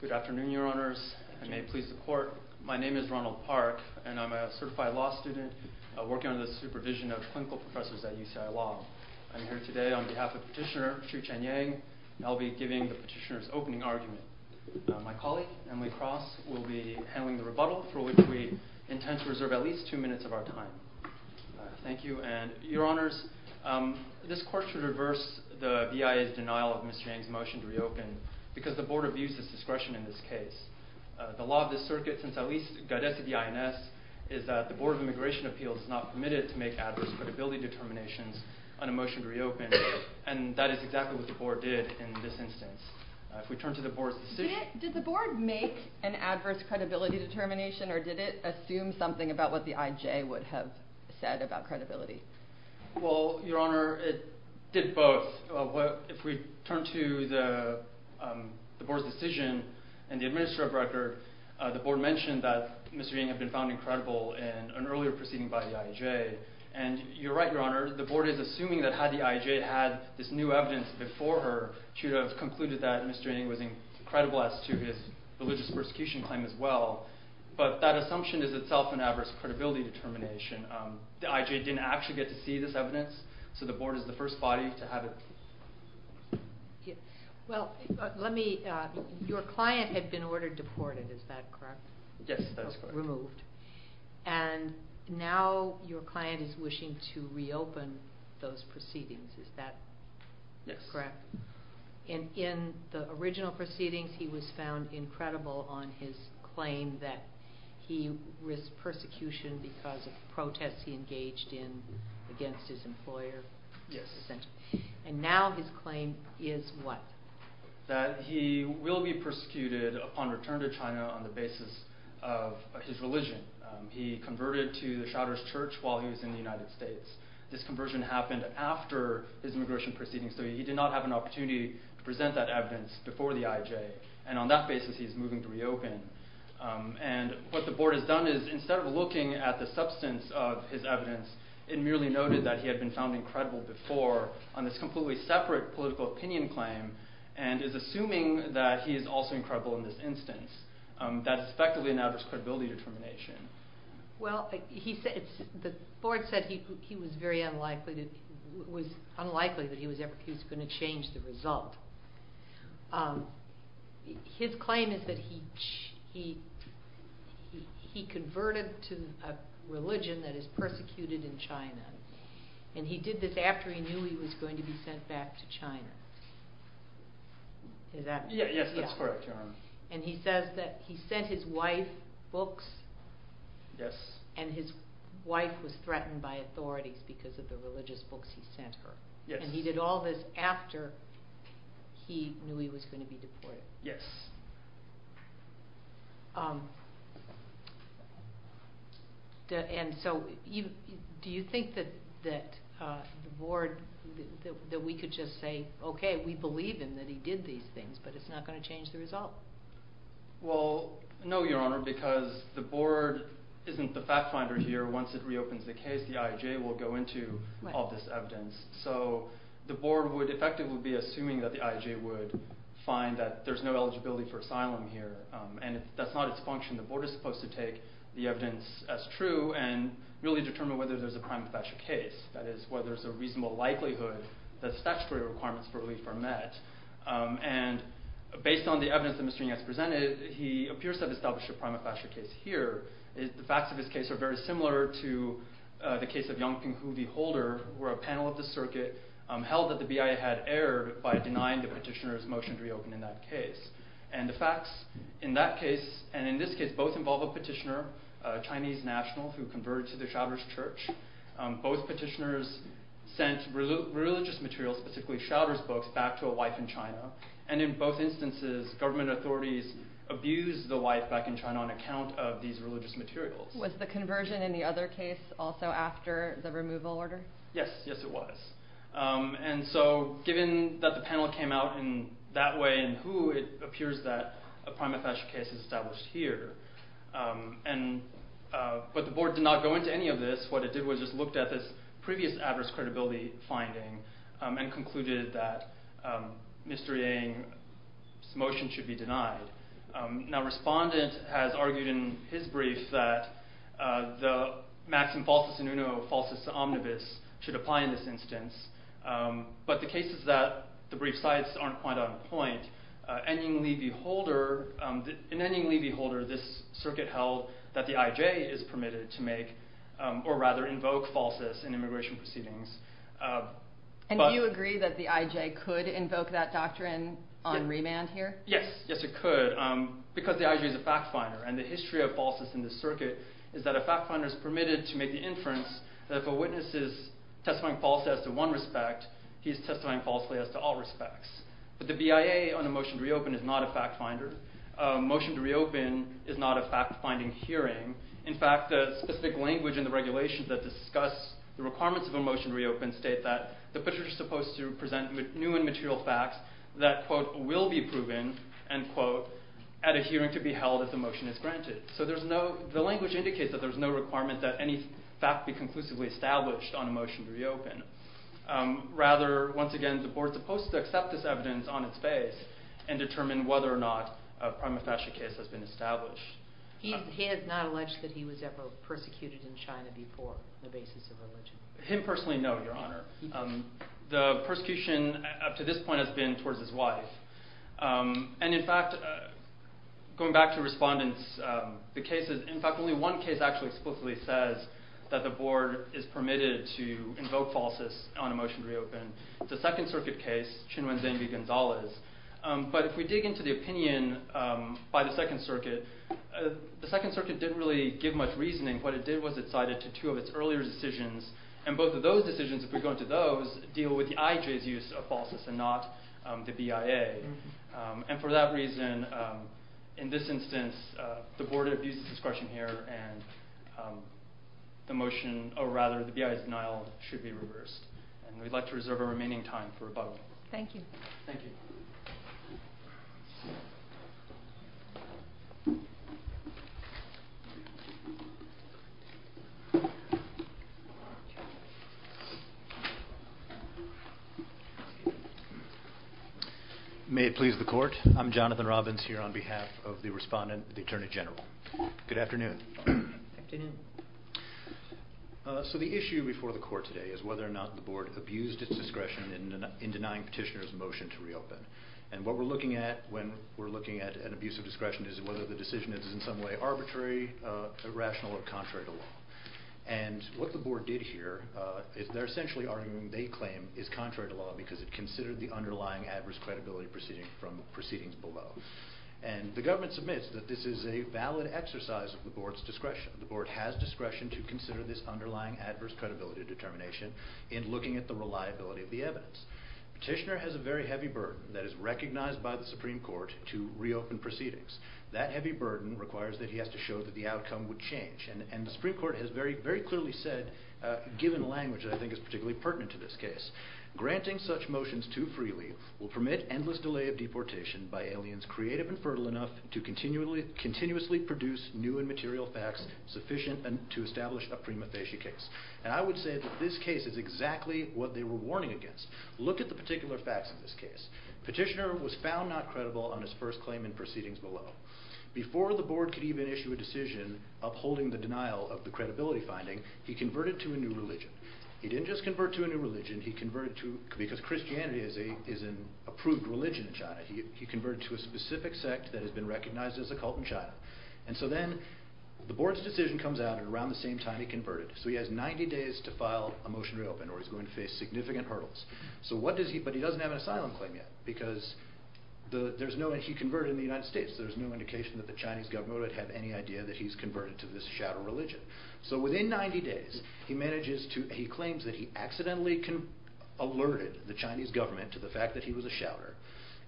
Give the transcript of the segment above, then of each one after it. Good afternoon, your honors. I may please the court. My name is Ronald Park, and I'm a certified law student working under the supervision of clinical professors at UCI Law. I'm here today on behalf of Petitioner Shouchen Yang, and I'll be giving the petitioner's opening argument. My colleague, Emily Cross, will be handling the rebuttal, for which we intend to reserve at least two minutes of our time. Thank you, and your honors, this is a rebuttal of EIA's denial of Ms. Yang's motion to reopen, because the board abused its discretion in this case. The law of this circuit, since at least Godess of the INS, is that the Board of Immigration Appeals is not permitted to make adverse credibility determinations on a motion to reopen, and that is exactly what the board did in this instance. If we turn to the board's decision... Did the board make an adverse credibility determination, or did it assume something about what the IJ would have said about credibility? Well, your honor, it did both. If we turn to the board's decision and the administrative record, the board mentioned that Ms. Yang had been found incredible in an earlier proceeding by the IJ, and you're right, your honor, the board is assuming that had the IJ had this new evidence before her, she would have concluded that Mr. Yang was incredible as to his religious persecution claim as well, but that assumption is itself an adverse credibility determination. The IJ didn't actually get to see this evidence, so the board is the first body to have it... Well, let me... Your client had been ordered deported, is that correct? Yes, that is correct. And now your client is wishing to reopen those proceedings, is that correct? Yes. In the original proceedings, he was found incredible on his claim that he risked persecution because of protests he engaged in against his employer. Yes. And now his claim is what? That he will be persecuted upon return to China on the basis of his religion. He converted to the Shrouders Church while he was in the United States. This conversion happened after his immigration proceedings, so he did not have an opportunity to present that evidence before the IJ, and on that basis he's moving to reopen. And what the board has done is instead of looking at the substance of his evidence, it merely noted that he had been found incredible before on this completely separate political opinion claim, and is assuming that he is also incredible in this instance. That is effectively an adverse credibility determination. Well, the board said it was unlikely that he was going to change the result. His claim is that he converted to a religion that is persecuted in China, and he did this after he knew he was going to be sent back to China. Is that correct? Yes, that's correct, John. And he says that he sent his wife books, and his wife was threatened by authorities because of the religious books he sent her. And he did all this after he knew he was going to be deported. Yes. And so do you think that the board, that we could just say, okay, we believe him that he did these things, but it's not going to change the result? Well, no, Your Honor, because the board isn't the fact finder here. Once it reopens the case, the IJ will go into all this evidence. So the board would effectively be assuming that the IJ would find that there's no eligibility for asylum here. And that's not its function. The board is supposed to take the evidence as true and really determine whether there's a prima facie case. That is, whether there's a reasonable likelihood that statutory requirements for relief are met. And based on the evidence that Mr. Ying has presented, he appears to have established a prima facie case here. The facts of his case are very similar to the case of Yongping Hu v. Holder, where a panel of the circuit held that the BIA had appeared by denying the petitioner's motion to reopen in that case. And the facts in that case, and in this case, both involve a petitioner, a Chinese national who converted to the Shouter's church. Both petitioners sent religious materials, specifically Shouter's books, back to a wife in China. And in both instances, government authorities abused the wife back in China on account of these religious materials. Was the conversion in the other case also after the removal order? Yes. Yes, it was. And so given that the panel came out in that way and who, it appears that a prima facie case is established here. But the board did not go into any of this. What it did was just looked at this previous adverse credibility finding and concluded that Mr. Ying's motion should be denied. Now, Respondent has argued in his brief that the maxim falsis omnibus should apply in this instance. But the cases that the brief cites aren't quite on point. In Ying Li v. Holder, this circuit held that the IJ is permitted to make, or rather invoke, falsis in immigration proceedings. And do you agree that the IJ could invoke that doctrine on remand here? Yes. Yes, it could, because the IJ is a fact finder. And the history of falsis in this instance, if a witness is testifying falsely as to one respect, he's testifying falsely as to all respects. But the BIA on a motion to reopen is not a fact finder. A motion to reopen is not a fact finding hearing. In fact, the specific language in the regulations that discuss the requirements of a motion to reopen state that the petitioner is supposed to present new and material facts that, quote, will be proven, end quote, at a hearing to be held if the motion is granted. So the language indicates that there's no requirement that any fact be conclusively established on a motion to reopen. Rather, once again, the board's supposed to accept this evidence on its face and determine whether or not a prima facie case has been established. He has not alleged that he was ever persecuted in China before on the basis of religion? Him personally, no, Your Honor. The persecution up to this point has been towards his wife. And in fact, going back to respondents, the cases, in fact, only one case actually explicitly says that the board is permitted to invoke falseness on a motion to reopen. It's a Second Circuit case, Chin-Wen Zeng v. Gonzalez. But if we dig into the opinion by the Second Circuit, the Second Circuit didn't really give much reasoning. What it did was it cited to two of its earlier decisions. And both of those decisions, if we go into those, deal with the IJ's use of falseness and not the BIA. And for that reason, in this instance, the board abuses discretion here and the motion, or rather, the BIA's denial should be reversed. And we'd like to reserve our remaining time for rebuttal. Thank you. Thank you. May it please the court. I'm Jonathan Robbins here on behalf of the respondent, the Attorney General. Good afternoon. Good afternoon. So the issue before the court today is whether or not the board abused its discretion in denying petitioner's motion to reopen. And what we're looking at when we're looking at an abuse of discretion is whether the decision is in some way arbitrary, irrational, or contrary to law. And what the board did here is they're essentially arguing they claim is contrary to law because it considered the underlying adverse credibility proceeding from proceedings below. And the government submits that this is a valid exercise of the board's discretion. The board has discretion to consider this underlying adverse credibility determination in looking at the reliability of the evidence. Petitioner has a very heavy burden that is recognized by the Supreme Court to reopen proceedings. That heavy burden requires that he has to show that the outcome would change. And the Supreme Court has very clearly said, given language that I think is particularly pertinent to this case, granting such motions too freely will permit endless delay of deportation by aliens creative and fertile enough to continuously produce new and material facts sufficient to establish a prima facie case. And I would say that this case is exactly what they were warning against. Look at the particular facts in this case. Petitioner was found not credible on his first claim and proceedings below. Before the board could even issue a decision upholding the denial of the credibility finding, he converted to a new religion. He didn't just convert to a new religion, he converted to, because Christianity is an approved religion in China, he converted to a specific sect that has been recognized as a cult in China. And so then the board's decision comes out and around the same time he converted. So he has 90 days to file a motion to reopen or he's going to face significant hurdles. So what does he, but he doesn't have an asylum claim yet because there's no, he converted in the United States. There's no indication that the Chinese government would have any idea that he's converted to this shadow religion. So within 90 days he manages to, he claims that he accidentally alerted the Chinese government to the fact that he was a shouter.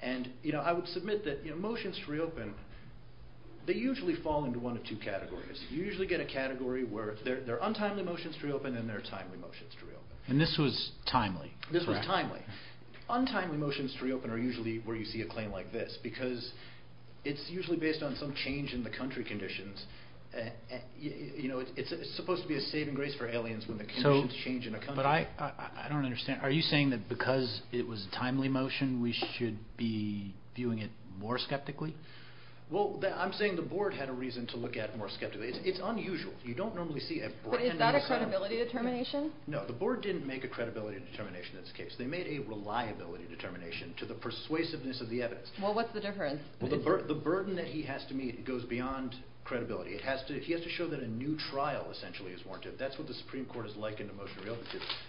And you know, I would submit that motions to reopen, they usually fall into one of two categories. You usually get a category where they're untimely motions to reopen and they're timely motions to reopen. And this was timely? This was timely. Untimely motions to reopen are usually where you see a claim like this because it's usually based on some change in the country conditions. You know, it's supposed to be a saving grace for aliens when the conditions change in a country. But I don't understand. Are you saying that because it was a timely motion we should be viewing it more skeptically? Well, I'm saying the board had a reason to look at it more skeptically. It's unusual. You don't normally see a... But is that a credibility determination? No, the board didn't make a credibility determination in this case. They made a reliability determination to the persuasiveness of the evidence. Well, what's the difference? The burden that he has to meet goes beyond credibility. He has to show that a new trial essentially is warranted. That's what the Supreme Court is likened to motion to reopen,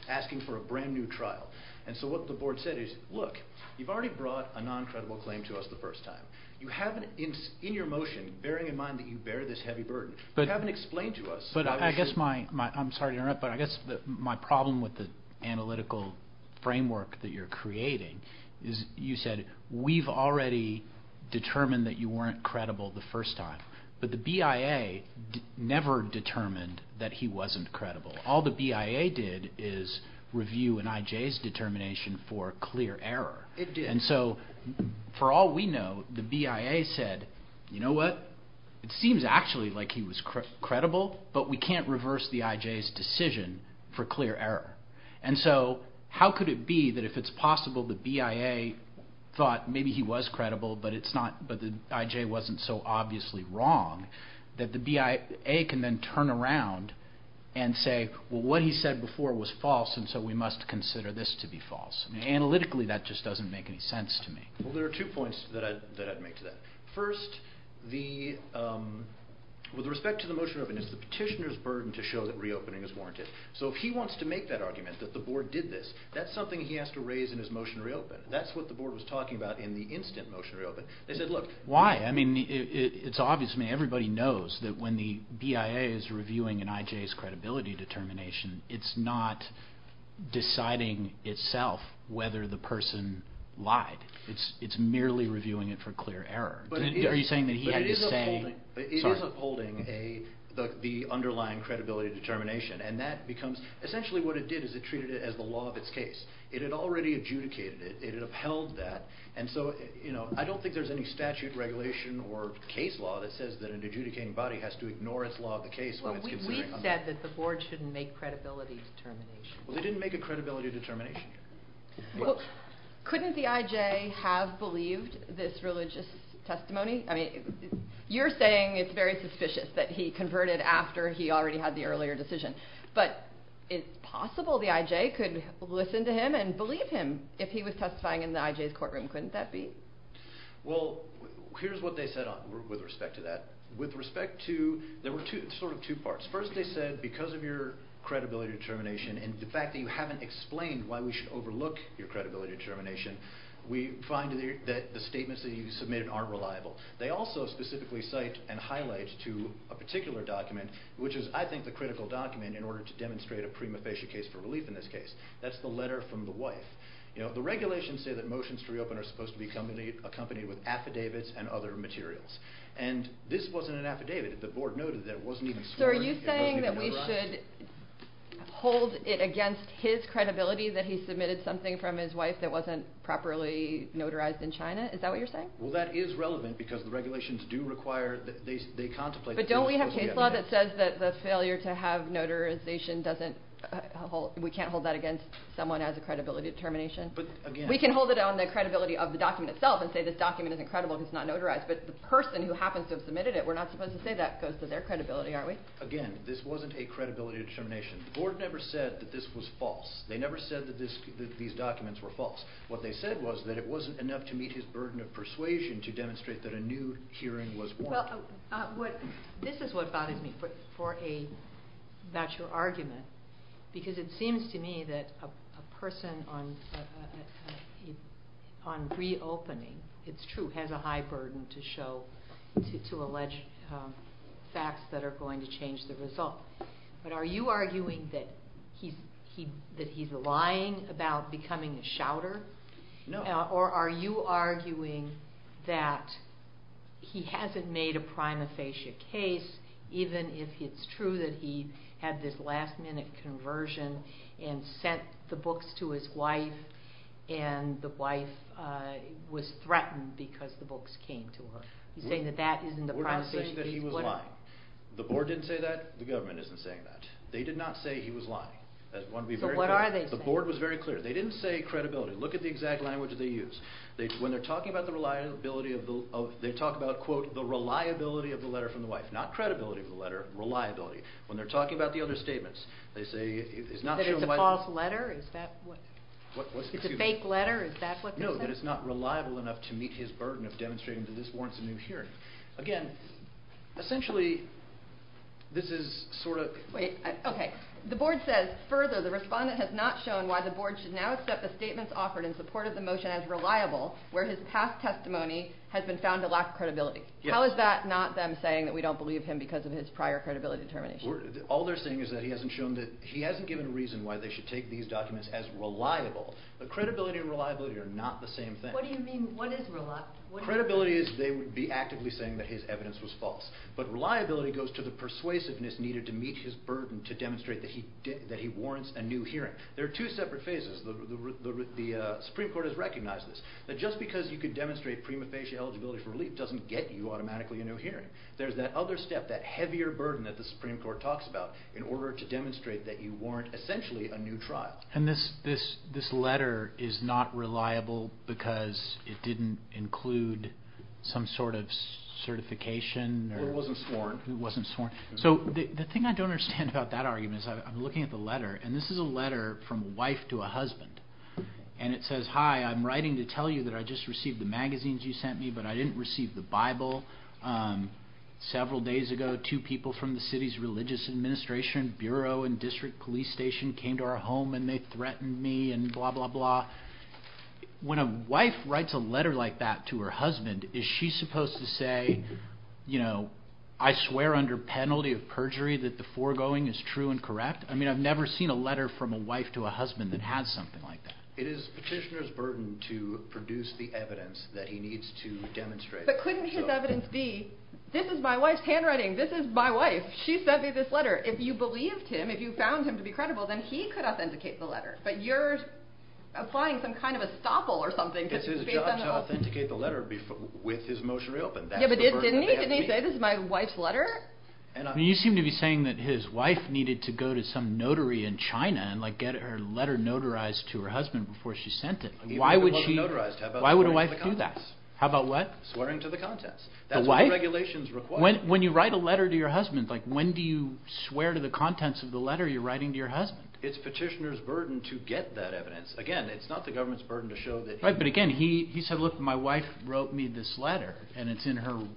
asking for a brand new trial. And so what the board said is, look, you've already brought a non-credible claim to us the first time. You haven't, in your motion, bearing in mind that you bear this heavy burden, you haven't explained to us... I guess my... I'm sorry to interrupt, but I guess my problem with the analytical framework that you're creating is you said, we've already determined that you weren't credible the first time, but the BIA never determined that he wasn't credible. All the BIA did is review an IJ's determination for clear error. It did. And so for all we know, the BIA said, you know what? It seems actually like he was credible, but we can't reverse the IJ's decision for clear error. And so how could it be that if it's possible the BIA thought maybe he was credible, but the IJ wasn't so obviously wrong, that the BIA can then turn around and say, well, what he said before was false, and so we must consider this to be false. Analytically, that just doesn't make any sense to me. Well, there are two points that I'd make to that. First, with respect to the motion to reopen, it's the petitioner's burden to show that reopening is warranted. So if he wants to make that argument that the board did this, that's something he has to raise in his motion to reopen. That's what the board was talking about in the instant motion to reopen. They said, look... Why? I mean, it's obvious to me everybody knows that when the BIA is reviewing an IJ's case, it's merely reviewing it for clear error. Are you saying that he had to say... But it is upholding the underlying credibility determination, and that becomes... Essentially what it did is it treated it as the law of its case. It had already adjudicated it. It had upheld that. And so, you know, I don't think there's any statute, regulation, or case law that says that an adjudicating body has to ignore its law of the case when it's considering... Well, we've said that the board shouldn't make credibility determinations. Well, they didn't make a credibility determination yet. Couldn't the IJ have believed this religious testimony? I mean, you're saying it's very suspicious that he converted after he already had the earlier decision. But it's possible the IJ could listen to him and believe him if he was testifying in the IJ's courtroom. Couldn't that be? Well, here's what they said with respect to that. With respect to... There were sort of two parts. First, they said because of your credibility determination and the fact that you haven't explained why we should overlook your credibility determination, we find that the statements that you submitted aren't reliable. They also specifically cite and highlight to a particular document, which is, I think, the critical document in order to demonstrate a prima facie case for relief in this case. That's the letter from the wife. You know, the regulations say that motions to reopen are supposed to be accompanied with affidavits and other materials. And this wasn't an affidavit. The board noted that it wasn't even sworn... So are you saying that we should hold it against his credibility that he submitted something from his wife that wasn't properly notarized in China? Is that what you're saying? Well, that is relevant because the regulations do require that they contemplate... But don't we have case law that says that the failure to have notarization doesn't hold... We can't hold that against someone as a credibility determination? But again... We can hold it on the credibility of the document itself and say this document isn't credible because it's not notarized. But the person who happens to have submitted it, we're not supposed to say that goes to their credibility, aren't we? Again, this wasn't a credibility determination. The board never said that this was false. They never said that these documents were false. What they said was that it wasn't enough to meet his burden of persuasion to demonstrate that a new hearing was warranted. Well, this is what bothers me for a natural argument because it seems to me that a person on reopening, it's true, has a high burden to show, to allege facts that are going to change the result. But are you arguing that he's lying about becoming a shouter? No. Or are you arguing that he hasn't made a prima facie case even if it's true that he had this last minute conversion and sent the books to his wife and the wife was threatened because the books came to her? You're saying that that isn't a prima facie case? We're not saying that he was lying. The board didn't say that. The government isn't saying that. They did not say he was lying. So what are they saying? The board was very clear. They didn't say credibility. Look at the exact language they use. When they're talking about the reliability of the letter from the wife, not credibility of the letter, reliability. When they're talking about the other statements, they say... That it's a false letter? It's a fake letter? Is that what they're saying? No, that it's not reliable enough to meet his burden of demonstrating that this warrants a new hearing. Again, essentially, this is sort of... Wait. Okay. The board says, further, the respondent has not shown why the board should now accept the statements offered in support of the motion as reliable where his past testimony has been found to lack credibility. How is that not them saying that we don't believe him because of his prior credibility determination? All they're saying is that he hasn't given a reason why they should take these documents as reliable. But credibility and reliability are not the same thing. What do you mean? What is reliability? Credibility is they would be actively saying that his evidence was false. But reliability goes to the persuasiveness needed to meet his burden to demonstrate that he warrants a new hearing. There are two separate phases. The Supreme Court has recognized this. That just because you could demonstrate prima facie eligibility for relief doesn't get you automatically a new hearing. There's that other step, that heavier burden that the Supreme Court talks about in order to demonstrate that you warrant, essentially, a new trial. And this letter is not reliable because it didn't include some sort of certification? Or it wasn't sworn. It wasn't sworn. So the thing I don't understand about that argument is I'm looking at the letter, and this is a letter from a wife to a husband. And it says, Hi, I'm writing to tell you that I just received the magazines you sent me, but I didn't receive the Bible. Several days ago, two people from the city's religious administration, bureau and district police station came to our home and they threatened me and blah, blah, blah. When a wife writes a letter like that to her husband, is she supposed to say, I swear under penalty of perjury that the foregoing is true and correct? I mean, I've never seen a letter from a wife to a husband that has something like that. It is petitioner's burden to produce the evidence that he needs to demonstrate. But couldn't his evidence be, this is my wife's handwriting. This is my wife. She sent me this letter. If you believed him, if you found him to be credible, then he could authenticate the letter. But you're applying some kind of estoppel or something. It's his job to authenticate the letter with his motion reopened. Yeah, but didn't he say this is my wife's letter? You seem to be saying that his wife needed to go to some notary in China and get her letter notarized to her husband before she sent it. Why would she? Why would a wife do that? How about what? Swearing to the contents. The wife? That's what regulations require. When you write a letter to your husband, when do you swear to the contents of the letter you're writing to your husband? It's petitioner's burden to get that evidence. Again, it's not the government's burden to show that he Right, but again, he said, look, my wife wrote me this letter and it's in her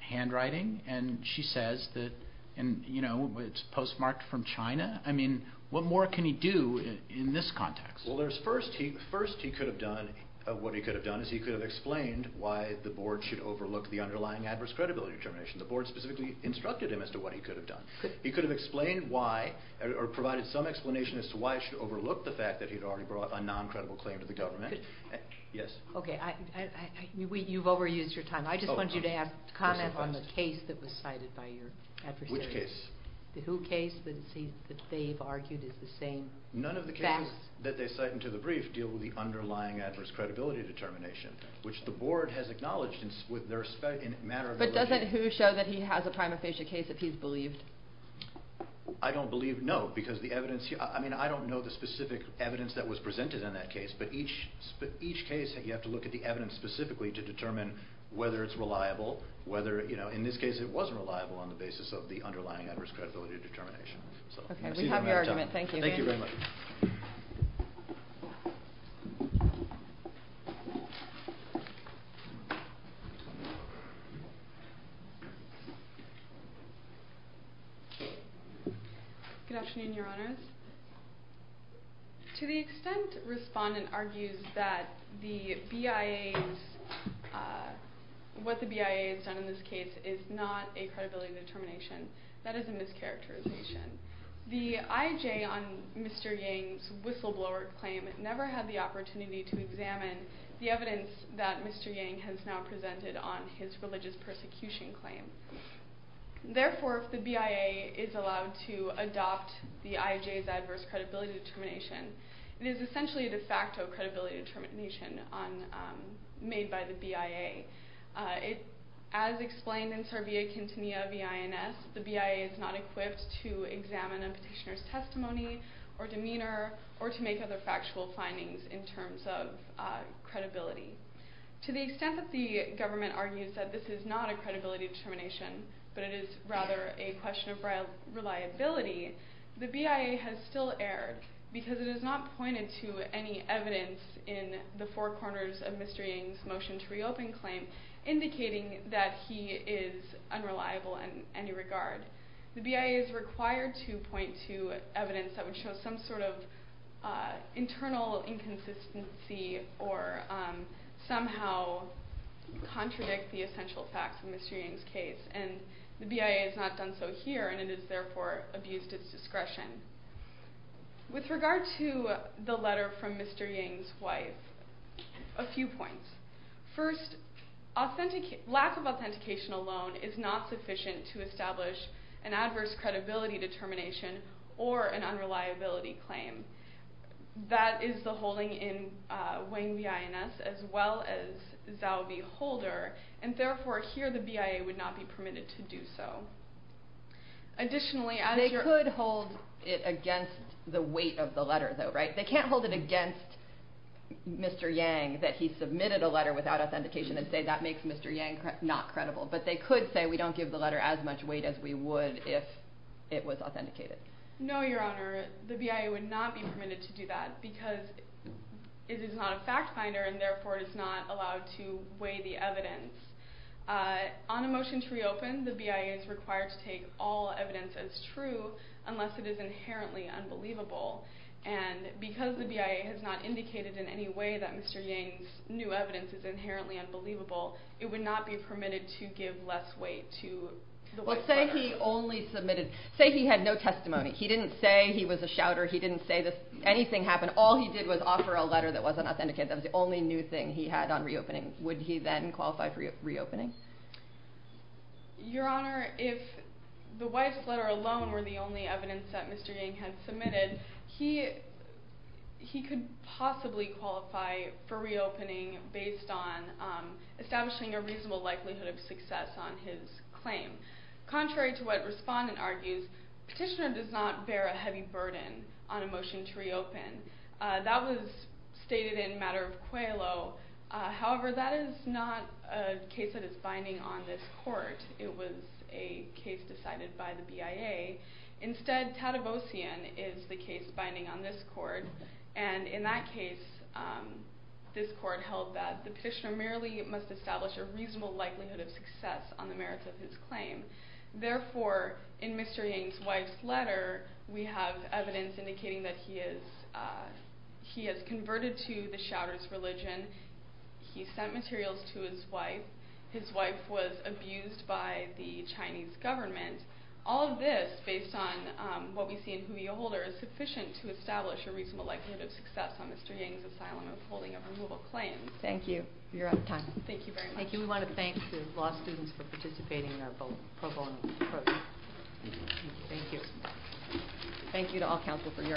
handwriting and she says that it's postmarked from China. I mean, what more can he do in this context? Well, first, what he could have done is he could have explained why the board should overlook the underlying adverse credibility determination. The board specifically instructed him as to what he could have done. He could have explained why or provided some explanation as to why he should overlook the fact that he'd already brought a non-credible claim to the government. Yes? Okay, you've overused your time. I just wanted you to comment on the case that was cited by your adversaries. Which case? The Hu case that they've argued is the same facts. None of the cases that they cite into the brief deal with the underlying adverse credibility determination, which the board has acknowledged with their respect in a matter of their religion. But doesn't Hu show that he has a prima facie case if he's believed? I don't believe, no, because the evidence here, I mean, I don't know the specific evidence that was presented in that case, but each case you have to look at the evidence specifically to determine whether it's reliable, whether, you know, in this case it wasn't reliable on the basis of the underlying adverse credibility determination. Okay, we have your argument. Thank you. Thank you very much. Good afternoon, Your Honors. To the extent respondent argues that what the BIA has done in this case is not a credibility determination, that is a mischaracterization. The IJ on Mr. Yang's whistleblower claim never had the opportunity to examine the evidence that Mr. Yang has now presented on his religious persecution claim. Therefore, if the BIA is allowed to adopt the IJ's adverse credibility determination, it is essentially a de facto credibility determination made by the BIA. As explained in Servia Quintinia v. INS, the BIA is not equipped to examine a petitioner's testimony or demeanor or to make other factual findings in terms of credibility. To the extent that the government argues that this is not a credibility determination, but it is rather a question of reliability, the BIA has still erred because it has not pointed to any evidence in the four corners of Mr. Yang's motion to reopen claim indicating that he is unreliable in any regard. The BIA is required to point to evidence that would show some sort of internal inconsistency or somehow contradict the essential facts of Mr. Yang's case and the BIA has not done so here and it has therefore abused its discretion. With regard to the letter from Mr. Yang's wife, a few points. First, lack of authentication alone is not sufficient to establish an adverse credibility determination or an unreliability claim. That is the holding in Wang v. INS as well as Zhao v. Holder and therefore here the BIA would not be permitted to do so. Additionally, they could hold it against the weight of the letter though, right? They can't hold it against Mr. Yang that he submitted a letter without authentication and say that makes Mr. Yang not credible, but they could say we don't give the letter as much weight as we would if it was authenticated. No, Your Honor. The BIA would not be permitted to do that because it is not a fact finder and therefore it is not allowed to weigh the evidence. On a motion to reopen, the BIA is required to take all evidence as true unless it is inherently unbelievable and because the BIA has not indicated in any way that Mr. Yang's new evidence is inherently unbelievable, it would not be permitted to give less weight to the weight of the letter. Well, say he only submitted, say he had no testimony. He didn't say he was a shouter. He didn't say anything happened. All he did was offer a letter that wasn't authenticated. That was the only new thing he had on reopening. Would he then qualify for reopening? Your Honor, if the wife's letter alone were the only evidence that Mr. Yang had submitted, he could possibly qualify for reopening based on establishing a reasonable likelihood of success on his claim. Contrary to what Respondent argues, Petitioner does not bear a heavy burden on a motion to reopen. That was stated in Matter of Qualo. However, that is not a case that is binding on this Court. It was a case decided by the BIA. Instead, Tadevossian is the case binding on this Court and in that case, this Court held that the Petitioner merely must establish a reasonable likelihood of success on the merits of his claim. Therefore, in Mr. Yang's wife's letter, we have evidence indicating that he has converted to the shouter's religion. He sent materials to his wife. His wife was abused by the Chinese government. All of this, based on what we see in Huya Holder, is sufficient to establish a reasonable likelihood of success on Mr. Yang's asylum of holding a removal claim. Thank you. You're out of time. Thank you very much. Thank you for participating in our pro bono program. Thank you. Thank you to all counsel for your attendance.